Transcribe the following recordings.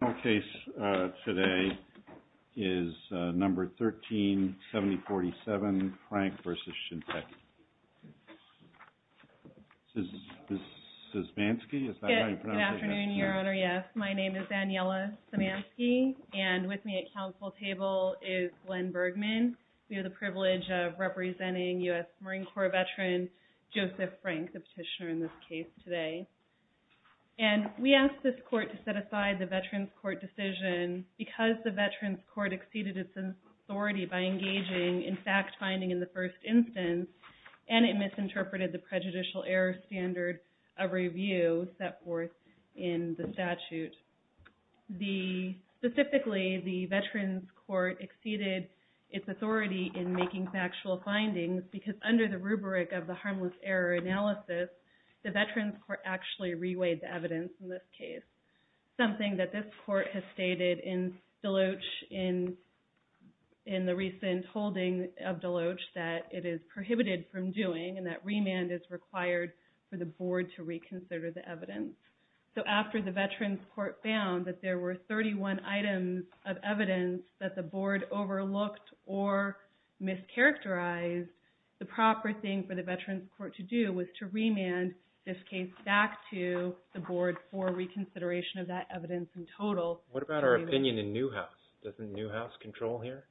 The final case today is No. 13-7047, FRANK v. SHINSEKI. Ms. Szymanski, is that how you pronounce your name? Good afternoon, Your Honor, yes. My name is Daniela Szymanski, and with me at council table is Glenn Bergman. We have the privilege of representing U.S. Marine Corps veteran Joseph Frank, the petitioner in this case today. And we asked this court to set aside the veterans court decision because the veterans court exceeded its authority by engaging in fact finding in the first instance, and it misinterpreted the prejudicial error standard of review set forth in the statute. Specifically, the veterans court exceeded its authority in making factual findings because under the rubric of the harmless error analysis, the veterans court actually reweighed the evidence in this case, something that this court has stated in Deloach, in the recent holding of Deloach, that it is prohibited from doing and that remand is required for the board to reconsider the evidence. So after the veterans court found that there were 31 items of evidence that the board overlooked or mischaracterized, the proper thing for the veterans court to do was to remand this case back to the board for reconsideration of that evidence in total. What about our opinion in Newhouse? Doesn't Newhouse control here?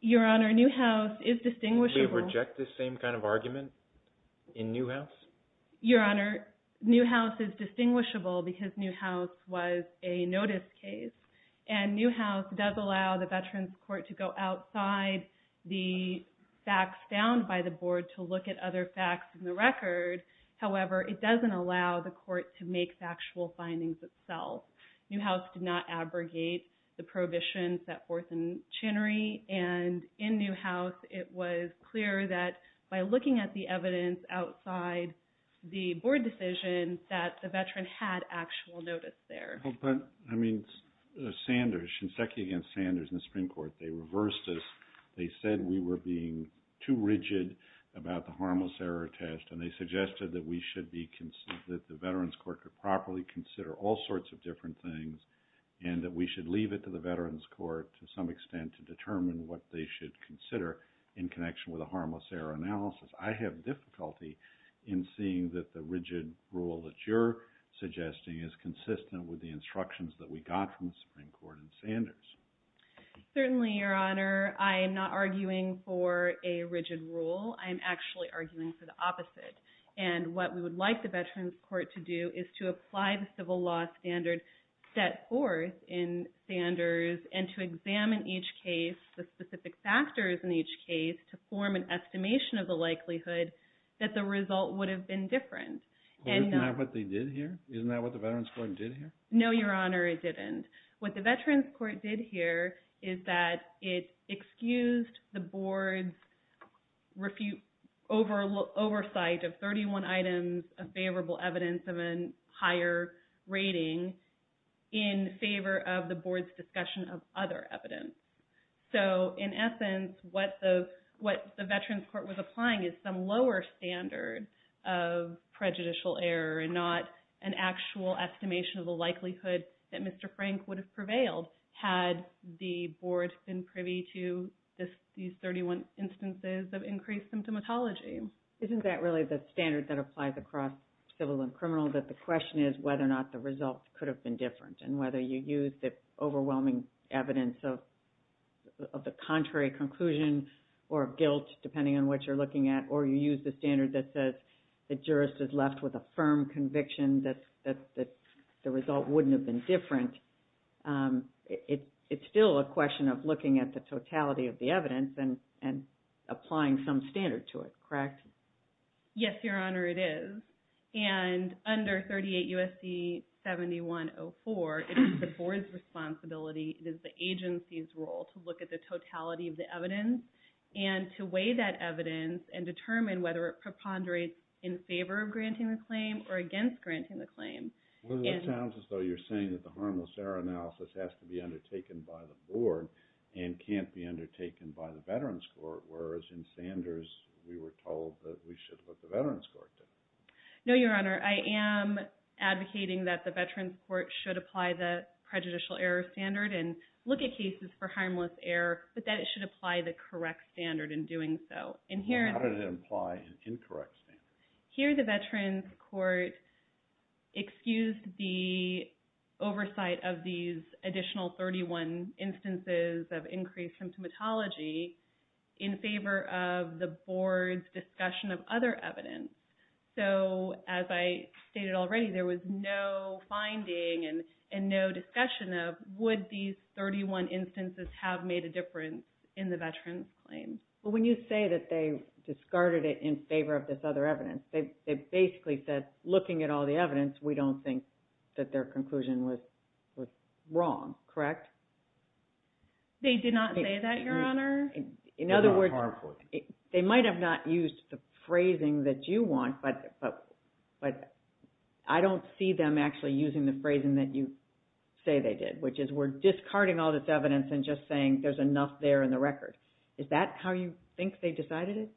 Your Honor, Newhouse is distinguishable. Would we reject this same kind of argument in Newhouse? Your Honor, Newhouse is distinguishable because Newhouse was a notice case, and Newhouse does allow the veterans court to go outside the facts found by the board to look at other facts in the record. However, it doesn't allow the court to make factual findings itself. Newhouse did not abrogate the prohibitions set forth in Chinnery, and in Newhouse it was clear that by looking at the evidence outside the board decision that the veteran had actual notice there. But, I mean, Sanders, Shinseki against Sanders in the Supreme Court, they reversed this. They said we were being too rigid about the harmless error test, and they suggested that the veterans court could properly consider all sorts of different things and that we should leave it to the veterans court to some extent to determine what they should consider in connection with a harmless error analysis. I have difficulty in seeing that the rigid rule that you're suggesting is consistent with the instructions that we got from the Supreme Court in Sanders. Certainly, Your Honor. I am not arguing for a rigid rule. I am actually arguing for the opposite, and what we would like the veterans court to do is to apply the civil law standard set forth in Sanders and to examine each case, the specific factors in each case to form an estimation of the likelihood that the result would have been different. Isn't that what they did here? Isn't that what the veterans court did here? No, Your Honor, it didn't. What the veterans court did here is that it excused the board's oversight of 31 items of favorable evidence of a higher rating in favor of the board's discussion of other evidence. So, in essence, what the veterans court was applying is some lower standard of prejudicial error and not an actual estimation of the likelihood that Mr. Frank would have prevailed had the board been privy to these 31 instances of increased symptomatology. Isn't that really the standard that applies across civil and criminal, that the question is whether or not the result could have been different and whether you use the overwhelming evidence of the contrary conclusion or guilt, depending on what you're looking at, or you use the standard that says the jurist is left with a firm conviction that the result wouldn't have been different. It's still a question of looking at the totality of the evidence and applying some standard to it, correct? Yes, Your Honor, it is. And under 38 U.S.C. 7104, it is the board's responsibility, it is the agency's role, to look at the totality of the evidence and to weigh that evidence and determine whether it preponderates in favor of granting the claim or against granting the claim. Well, that sounds as though you're saying that the harmless error analysis has to be undertaken by the board and can't be undertaken by the veterans court, whereas in Sanders, we were told that we should let the veterans court do it. No, Your Honor. I am advocating that the veterans court should apply the prejudicial error standard and look at cases for harmless error, but that it should apply the correct standard in doing so. How did it imply an incorrect standard? Here, the veterans court excused the oversight of these additional 31 instances of increased symptomatology in favor of the board's discussion of other evidence. So, as I stated already, there was no finding and no discussion of, would these 31 instances have made a difference in the veterans claim? Well, when you say that they discarded it in favor of this other evidence, they basically said, looking at all the evidence, we don't think that their conclusion was wrong, correct? They did not say that, Your Honor. In other words, they might have not used the phrasing that you want, but I don't see them actually using the phrasing that you say they did, which is we're discarding all this evidence and just saying there's enough there in the record. Is that how you think they decided it?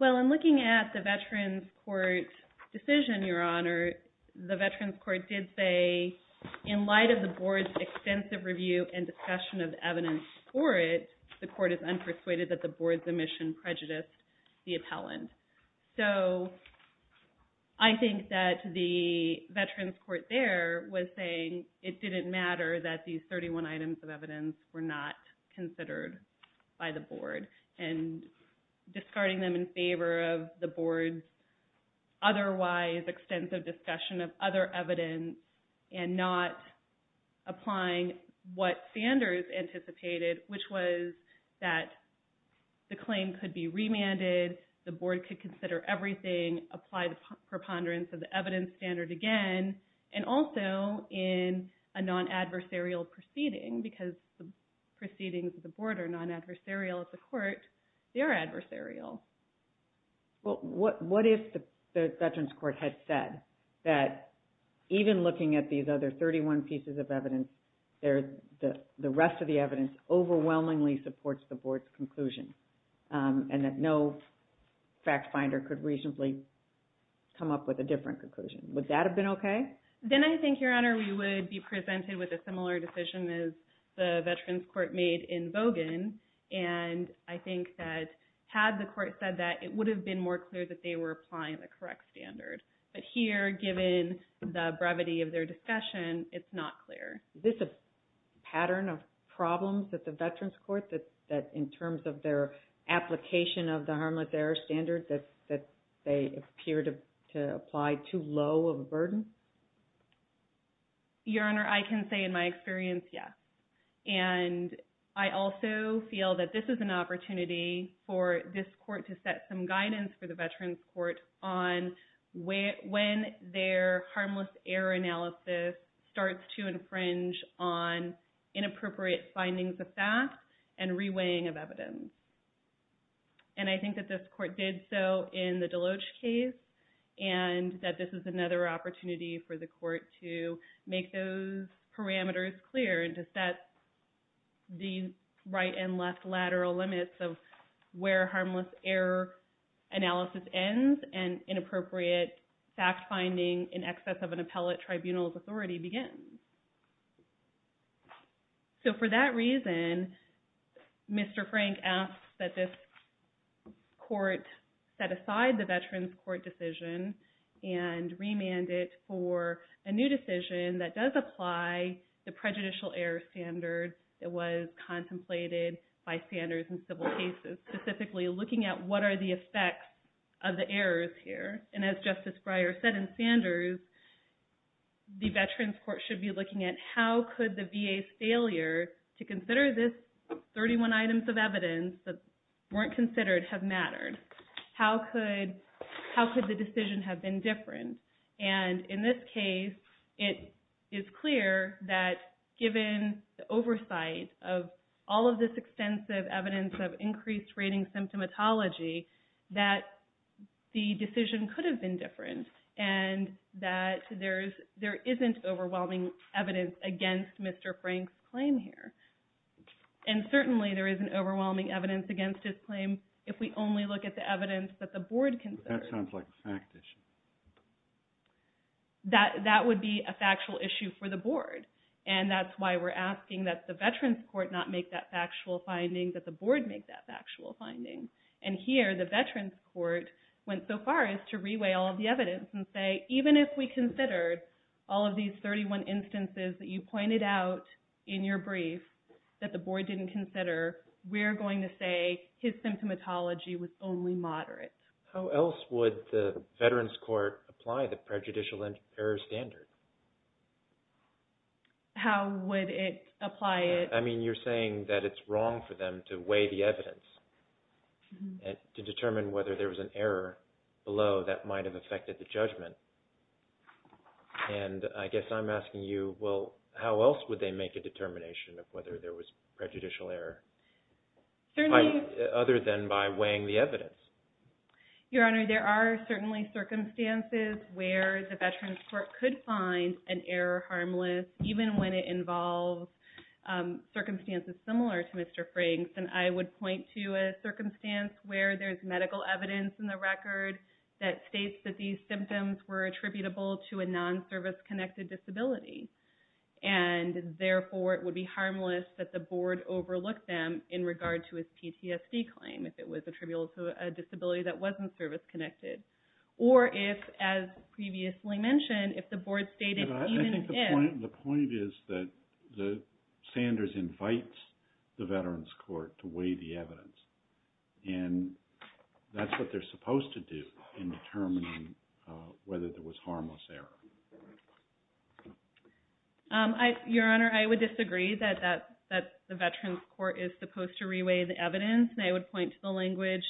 Well, in looking at the veterans court's decision, Your Honor, the veterans court did say, in light of the board's extensive review and discussion of evidence for it, the court is unpersuaded that the board's omission prejudiced the appellant. So, I think that the veterans court there was saying it didn't matter that these 31 items of evidence were not considered by the board, and discarding them in favor of the board's otherwise extensive discussion of other evidence and not applying what Sanders anticipated, which was that the claim could be remanded, the board could consider everything, apply the preponderance of the evidence standard again, and also in a non-adversarial proceeding, because the proceedings of the board are non-adversarial at the court. They are adversarial. Well, what if the veterans court had said that even looking at these other 31 pieces of evidence, the rest of the evidence overwhelmingly supports the board's conclusion, and that no fact finder could reasonably come up with a different conclusion? Would that have been okay? Then I think, Your Honor, we would be presented with a similar decision as the veterans court made in Bogan, and I think that had the court said that, it would have been more clear that they were applying the correct standard. But here, given the brevity of their discussion, it's not clear. Is this a pattern of problems that the veterans court, that in terms of their application of the harmless error standard, that they appear to apply too low of a burden? Your Honor, I can say in my experience, yes. And I also feel that this is an opportunity for this court to set some guidance for the veterans court on when their harmless error analysis starts to infringe on inappropriate findings of fact and reweighing of evidence. And I think that this court did so in the Deloach case, and that this is another opportunity for the court to make those parameters clear and to set the right and left lateral limits of where harmless error analysis ends and inappropriate fact finding in excess of an appellate tribunal's authority begins. So for that reason, Mr. Frank asks that this court set aside the veterans court decision and remand it for a new decision that does apply the prejudicial error standard that was contemplated by Sanders in civil cases, specifically looking at what are the effects of the errors here. And as Justice Breyer said in Sanders, the veterans court should be looking at how could the VA's failure to consider this 31 items of evidence that weren't considered have mattered? How could the decision have been different? And in this case, it is clear that given the oversight of all of this extensive evidence of increased rating symptomatology, that the decision could have been different and that there isn't overwhelming evidence against Mr. Frank's claim here. And certainly, there isn't overwhelming evidence against his claim if we only look at the evidence that the board considers. But that sounds like a fact issue. That would be a factual issue for the board, and that's why we're asking that the veterans court not make that factual finding, that the board make that factual finding. And here, the veterans court went so far as to reweigh all of the evidence and say, even if we considered all of these 31 instances that you pointed out in your brief that the board didn't consider, we're going to say his symptomatology was only moderate. How else would the veterans court apply the prejudicial error standard? How would it apply it? I mean, you're saying that it's wrong for them to weigh the evidence to determine whether there was an error below that might have affected the judgment. And I guess I'm asking you, well, how else would they make a determination of whether there was prejudicial error, other than by weighing the evidence? Your Honor, there are certainly circumstances where the veterans court could find an error harmless, even when it involves circumstances similar to Mr. Frank's. And I would point to a circumstance where there's medical evidence in the record that states that these symptoms were attributable to a non-service-connected disability. And therefore, it would be harmless that the board overlook them in regard to his PTSD claim, if it was attributable to a disability that wasn't service-connected. Or if, as previously mentioned, if the board stated even if... And that's what they're supposed to do in determining whether there was harmless error. Your Honor, I would disagree that the veterans court is supposed to re-weigh the evidence. And I would point to the language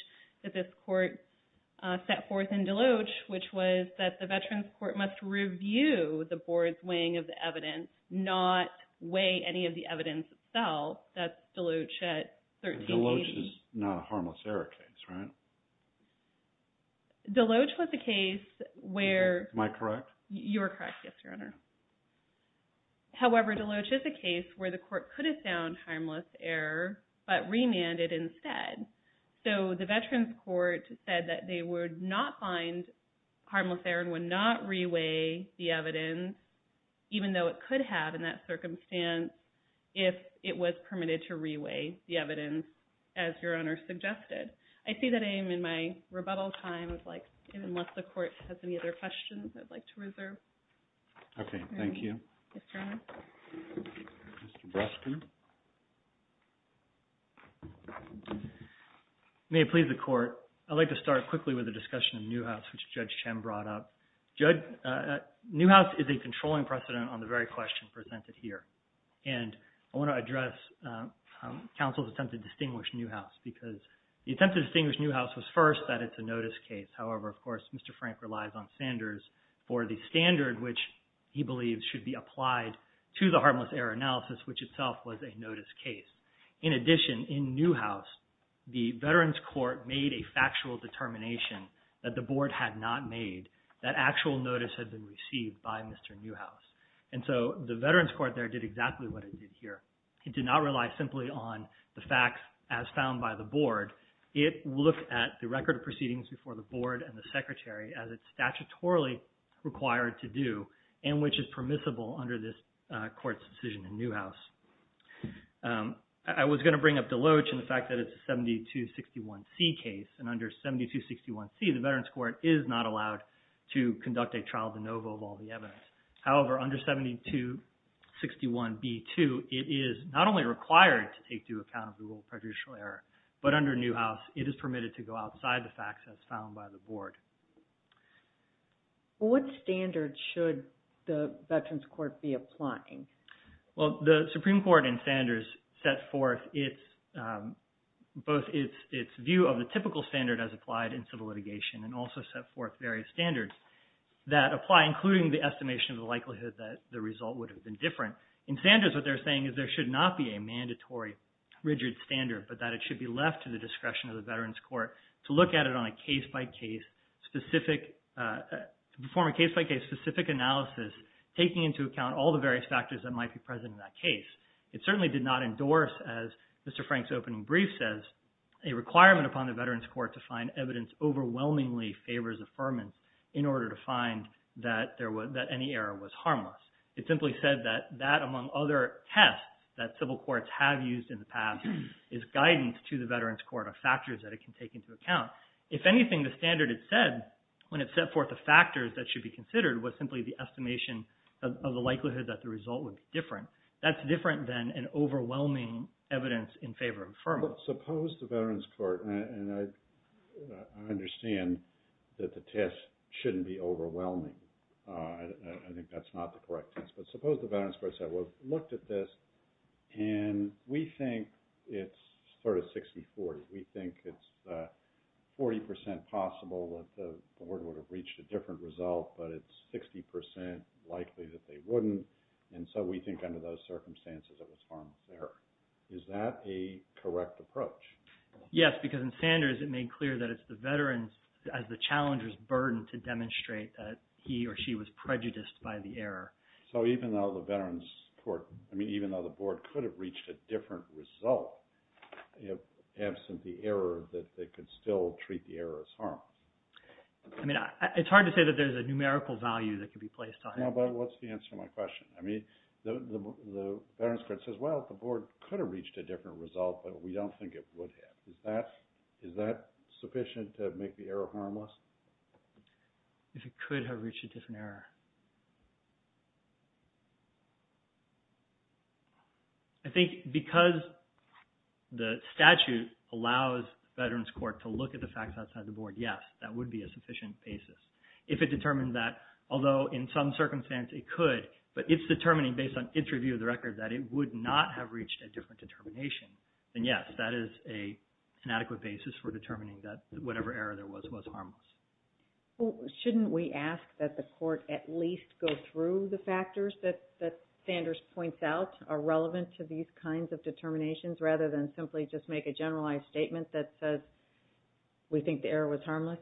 that this court set forth in Deloach, which was that the veterans court must review the board's weighing of the evidence, not weigh any of the evidence itself. That's Deloach at 1380. Deloach is not a harmless error case, right? Deloach was a case where... Am I correct? You are correct, yes, Your Honor. However, Deloach is a case where the court could have found harmless error, but remanded instead. So the veterans court said that they would not find harmless error and would not re-weigh the evidence, even though it could have in that circumstance, if it was permitted to re-weigh the evidence, as Your Honor suggested. I see that I am in my rebuttal time. I'd like, unless the court has any other questions, I'd like to reserve. Okay, thank you. Yes, Your Honor. Mr. Breskin. May it please the Court. I'd like to start quickly with the discussion of Newhouse, which Judge Chem brought up. Newhouse is a controlling precedent on the very question presented here, and I want to address counsel's attempt to distinguish Newhouse because the attempt to distinguish Newhouse was first that it's a notice case. However, of course, Mr. Frank relies on Sanders for the standard, which he believes should be applied to the harmless error analysis, which itself was a notice case. In addition, in Newhouse, the Veterans Court made a factual determination that the Board had not made. That actual notice had been received by Mr. Newhouse. And so the Veterans Court there did exactly what it did here. It did not rely simply on the facts as found by the Board. It looked at the record of proceedings before the Board and the Secretary as it's statutorily required to do and which is permissible under this Court's decision in Newhouse. I was going to bring up Deloach and the fact that it's a 7261C case, and under 7261C, the Veterans Court is not allowed to conduct a trial de novo of all the evidence. However, under 7261B2, it is not only required to take into account the rule of prejudicial error, but under Newhouse, What standards should the Veterans Court be applying? Well, the Supreme Court in Sanders set forth both its view of the typical standard as applied in civil litigation and also set forth various standards that apply, including the estimation of the likelihood that the result would have been different. In Sanders, what they're saying is there should not be a mandatory rigid standard, but that it should be left to the discretion of the Veterans Court to look at it on a case-by-case specific analysis, taking into account all the various factors that might be present in that case. It certainly did not endorse, as Mr. Frank's opening brief says, a requirement upon the Veterans Court to find evidence overwhelmingly favors affirmance in order to find that any error was harmless. It simply said that that, among other tests that civil courts have used in the past, is guidance to the Veterans Court of factors that it can take into account. If anything, the standard it said, when it set forth the factors that should be considered, was simply the estimation of the likelihood that the result would be different. That's different than an overwhelming evidence in favor of affirmance. Suppose the Veterans Court, and I understand that the test shouldn't be overwhelming. I think that's not the correct test. But suppose the Veterans Court said, well, look at this, and we think it's sort of 60-40. We think it's 40% possible that the board would have reached a different result, but it's 60% likely that they wouldn't, and so we think under those circumstances it was harmless error. Is that a correct approach? Yes, because in Sanders it made clear that it's the veterans, as the challenger's burden to demonstrate that he or she was prejudiced by the error. So even though the board could have reached a different result, absent the error that they could still treat the error as harmless? I mean it's hard to say that there's a numerical value that could be placed on it. But what's the answer to my question? I mean the Veterans Court says, well, the board could have reached a different result, but we don't think it would have. Is that sufficient to make the error harmless? If it could have reached a different error. I think because the statute allows Veterans Court to look at the facts outside the board, yes, that would be a sufficient basis. If it determined that, although in some circumstances it could, but it's determining based on its review of the record that it would not have reached a different determination, then yes, that is an adequate basis for determining that whatever error there was was harmless. Shouldn't we ask that the court at least go through the factors that Sanders points out are relevant to these kinds of determinations, rather than simply just make a generalized statement that says we think the error was harmless?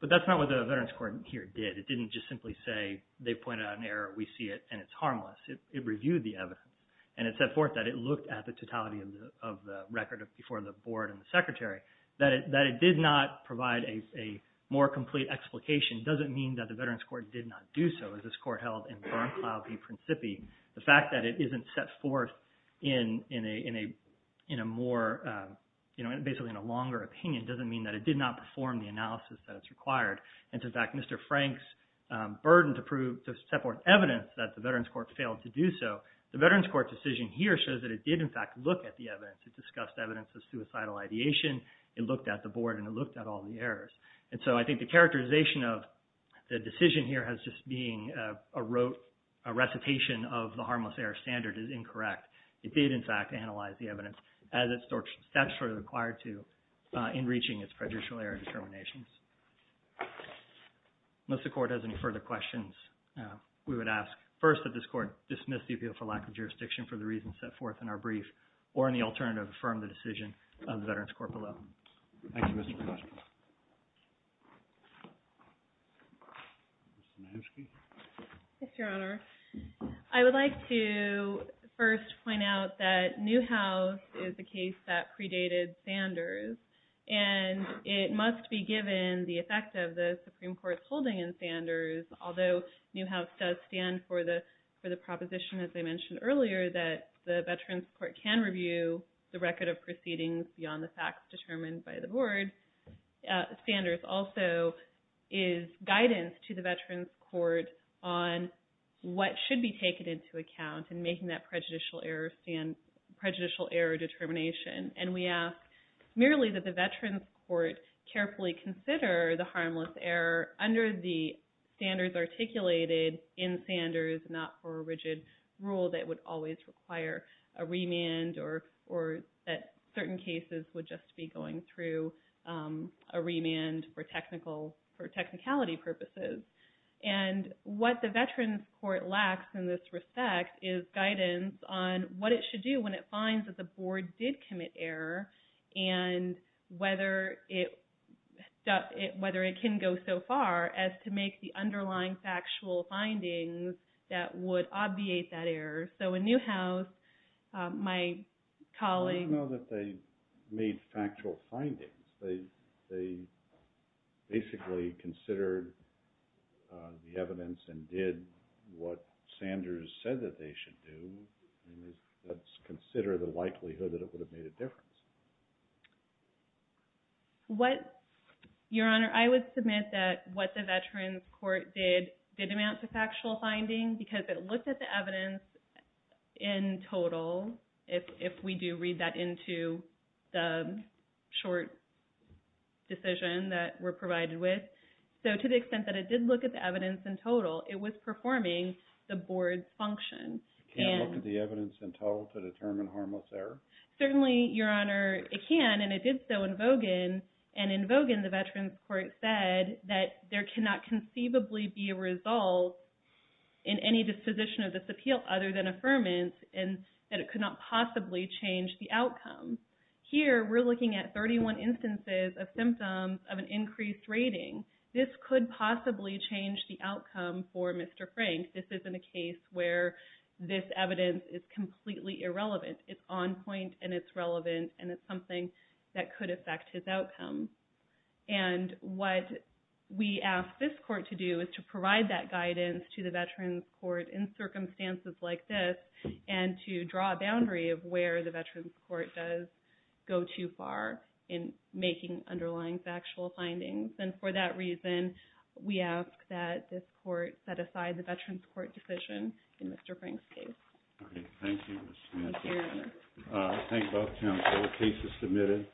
But that's not what the Veterans Court here did. It didn't just simply say they pointed out an error, we see it, and it's harmless. It reviewed the evidence. And it set forth that it looked at the totality of the record before the board and the secretary. That it did not provide a more complete explication doesn't mean that the Veterans Court did not do so, as this court held in Bernklau v. Principi. The fact that it isn't set forth in a more, basically in a longer opinion, doesn't mean that it did not perform the analysis that it's required. And, in fact, Mr. Frank's burden to set forth evidence that the Veterans Court failed to do so, the Veterans Court decision here shows that it did, in fact, look at the evidence. It discussed evidence of suicidal ideation. It looked at the board and it looked at all the errors. And so I think the characterization of the decision here as just being a recitation of the harmless error standard is incorrect. It did, in fact, analyze the evidence as it's statutorily required to in reaching its prejudicial error determinations. Unless the court has any further questions, we would ask, first, that this court dismiss the appeal for lack of jurisdiction for the reasons set forth in our brief, or, in the alternative, affirm the decision of the Veterans Court below. Thank you, Mr. McOsker. Ms. Sinivsky. Yes, Your Honor. I would like to first point out that Newhouse is a case that predated Sanders. And it must be given the effect of the Supreme Court's holding in Sanders, although Newhouse does stand for the proposition, as I mentioned earlier, that the Veterans Court can review the record of proceedings beyond the facts determined by the board. Sanders also is guidance to the Veterans Court on what should be taken into account in making that prejudicial error determination. And we ask merely that the Veterans Court carefully consider the harmless error under the standards articulated in Sanders, not for a rigid rule that would always require a remand, or that certain cases would just be going through a remand for technicality purposes. And what the Veterans Court lacks in this respect is guidance on what it should do when it finds that the board did commit error, and whether it can go so far as to make the underlying factual findings that would obviate that error. So in Newhouse, my colleague… I don't know that they made factual findings. They basically considered the evidence and did what Sanders said that they should do. Let's consider the likelihood that it would have made a difference. Your Honor, I would submit that what the Veterans Court did did amount to factual finding because it looked at the evidence in total, if we do read that into the short decision that we're provided with. So to the extent that it did look at the evidence in total, it was performing the board's function. It can't look at the evidence in total to determine harmless error? Certainly, Your Honor, it can, and it did so in Vogan. And in Vogan, the Veterans Court said that there cannot conceivably be a result in any disposition of this appeal other than affirmance, and that it could not possibly change the outcome. Here, we're looking at 31 instances of symptoms of an increased rating. This could possibly change the outcome for Mr. Frank. This isn't a case where this evidence is completely irrelevant. It's on point, and it's relevant, and it's something that could affect his outcome. And what we ask this court to do is to provide that guidance to the Veterans Court in circumstances like this and to draw a boundary of where the Veterans Court does go too far in making underlying factual findings. And for that reason, we ask that this court set aside the Veterans Court decision in Mr. Frank's case. Okay. Thank you, Ms. Samantha. Thank you, Your Honor. Thank both counsel. The case is submitted.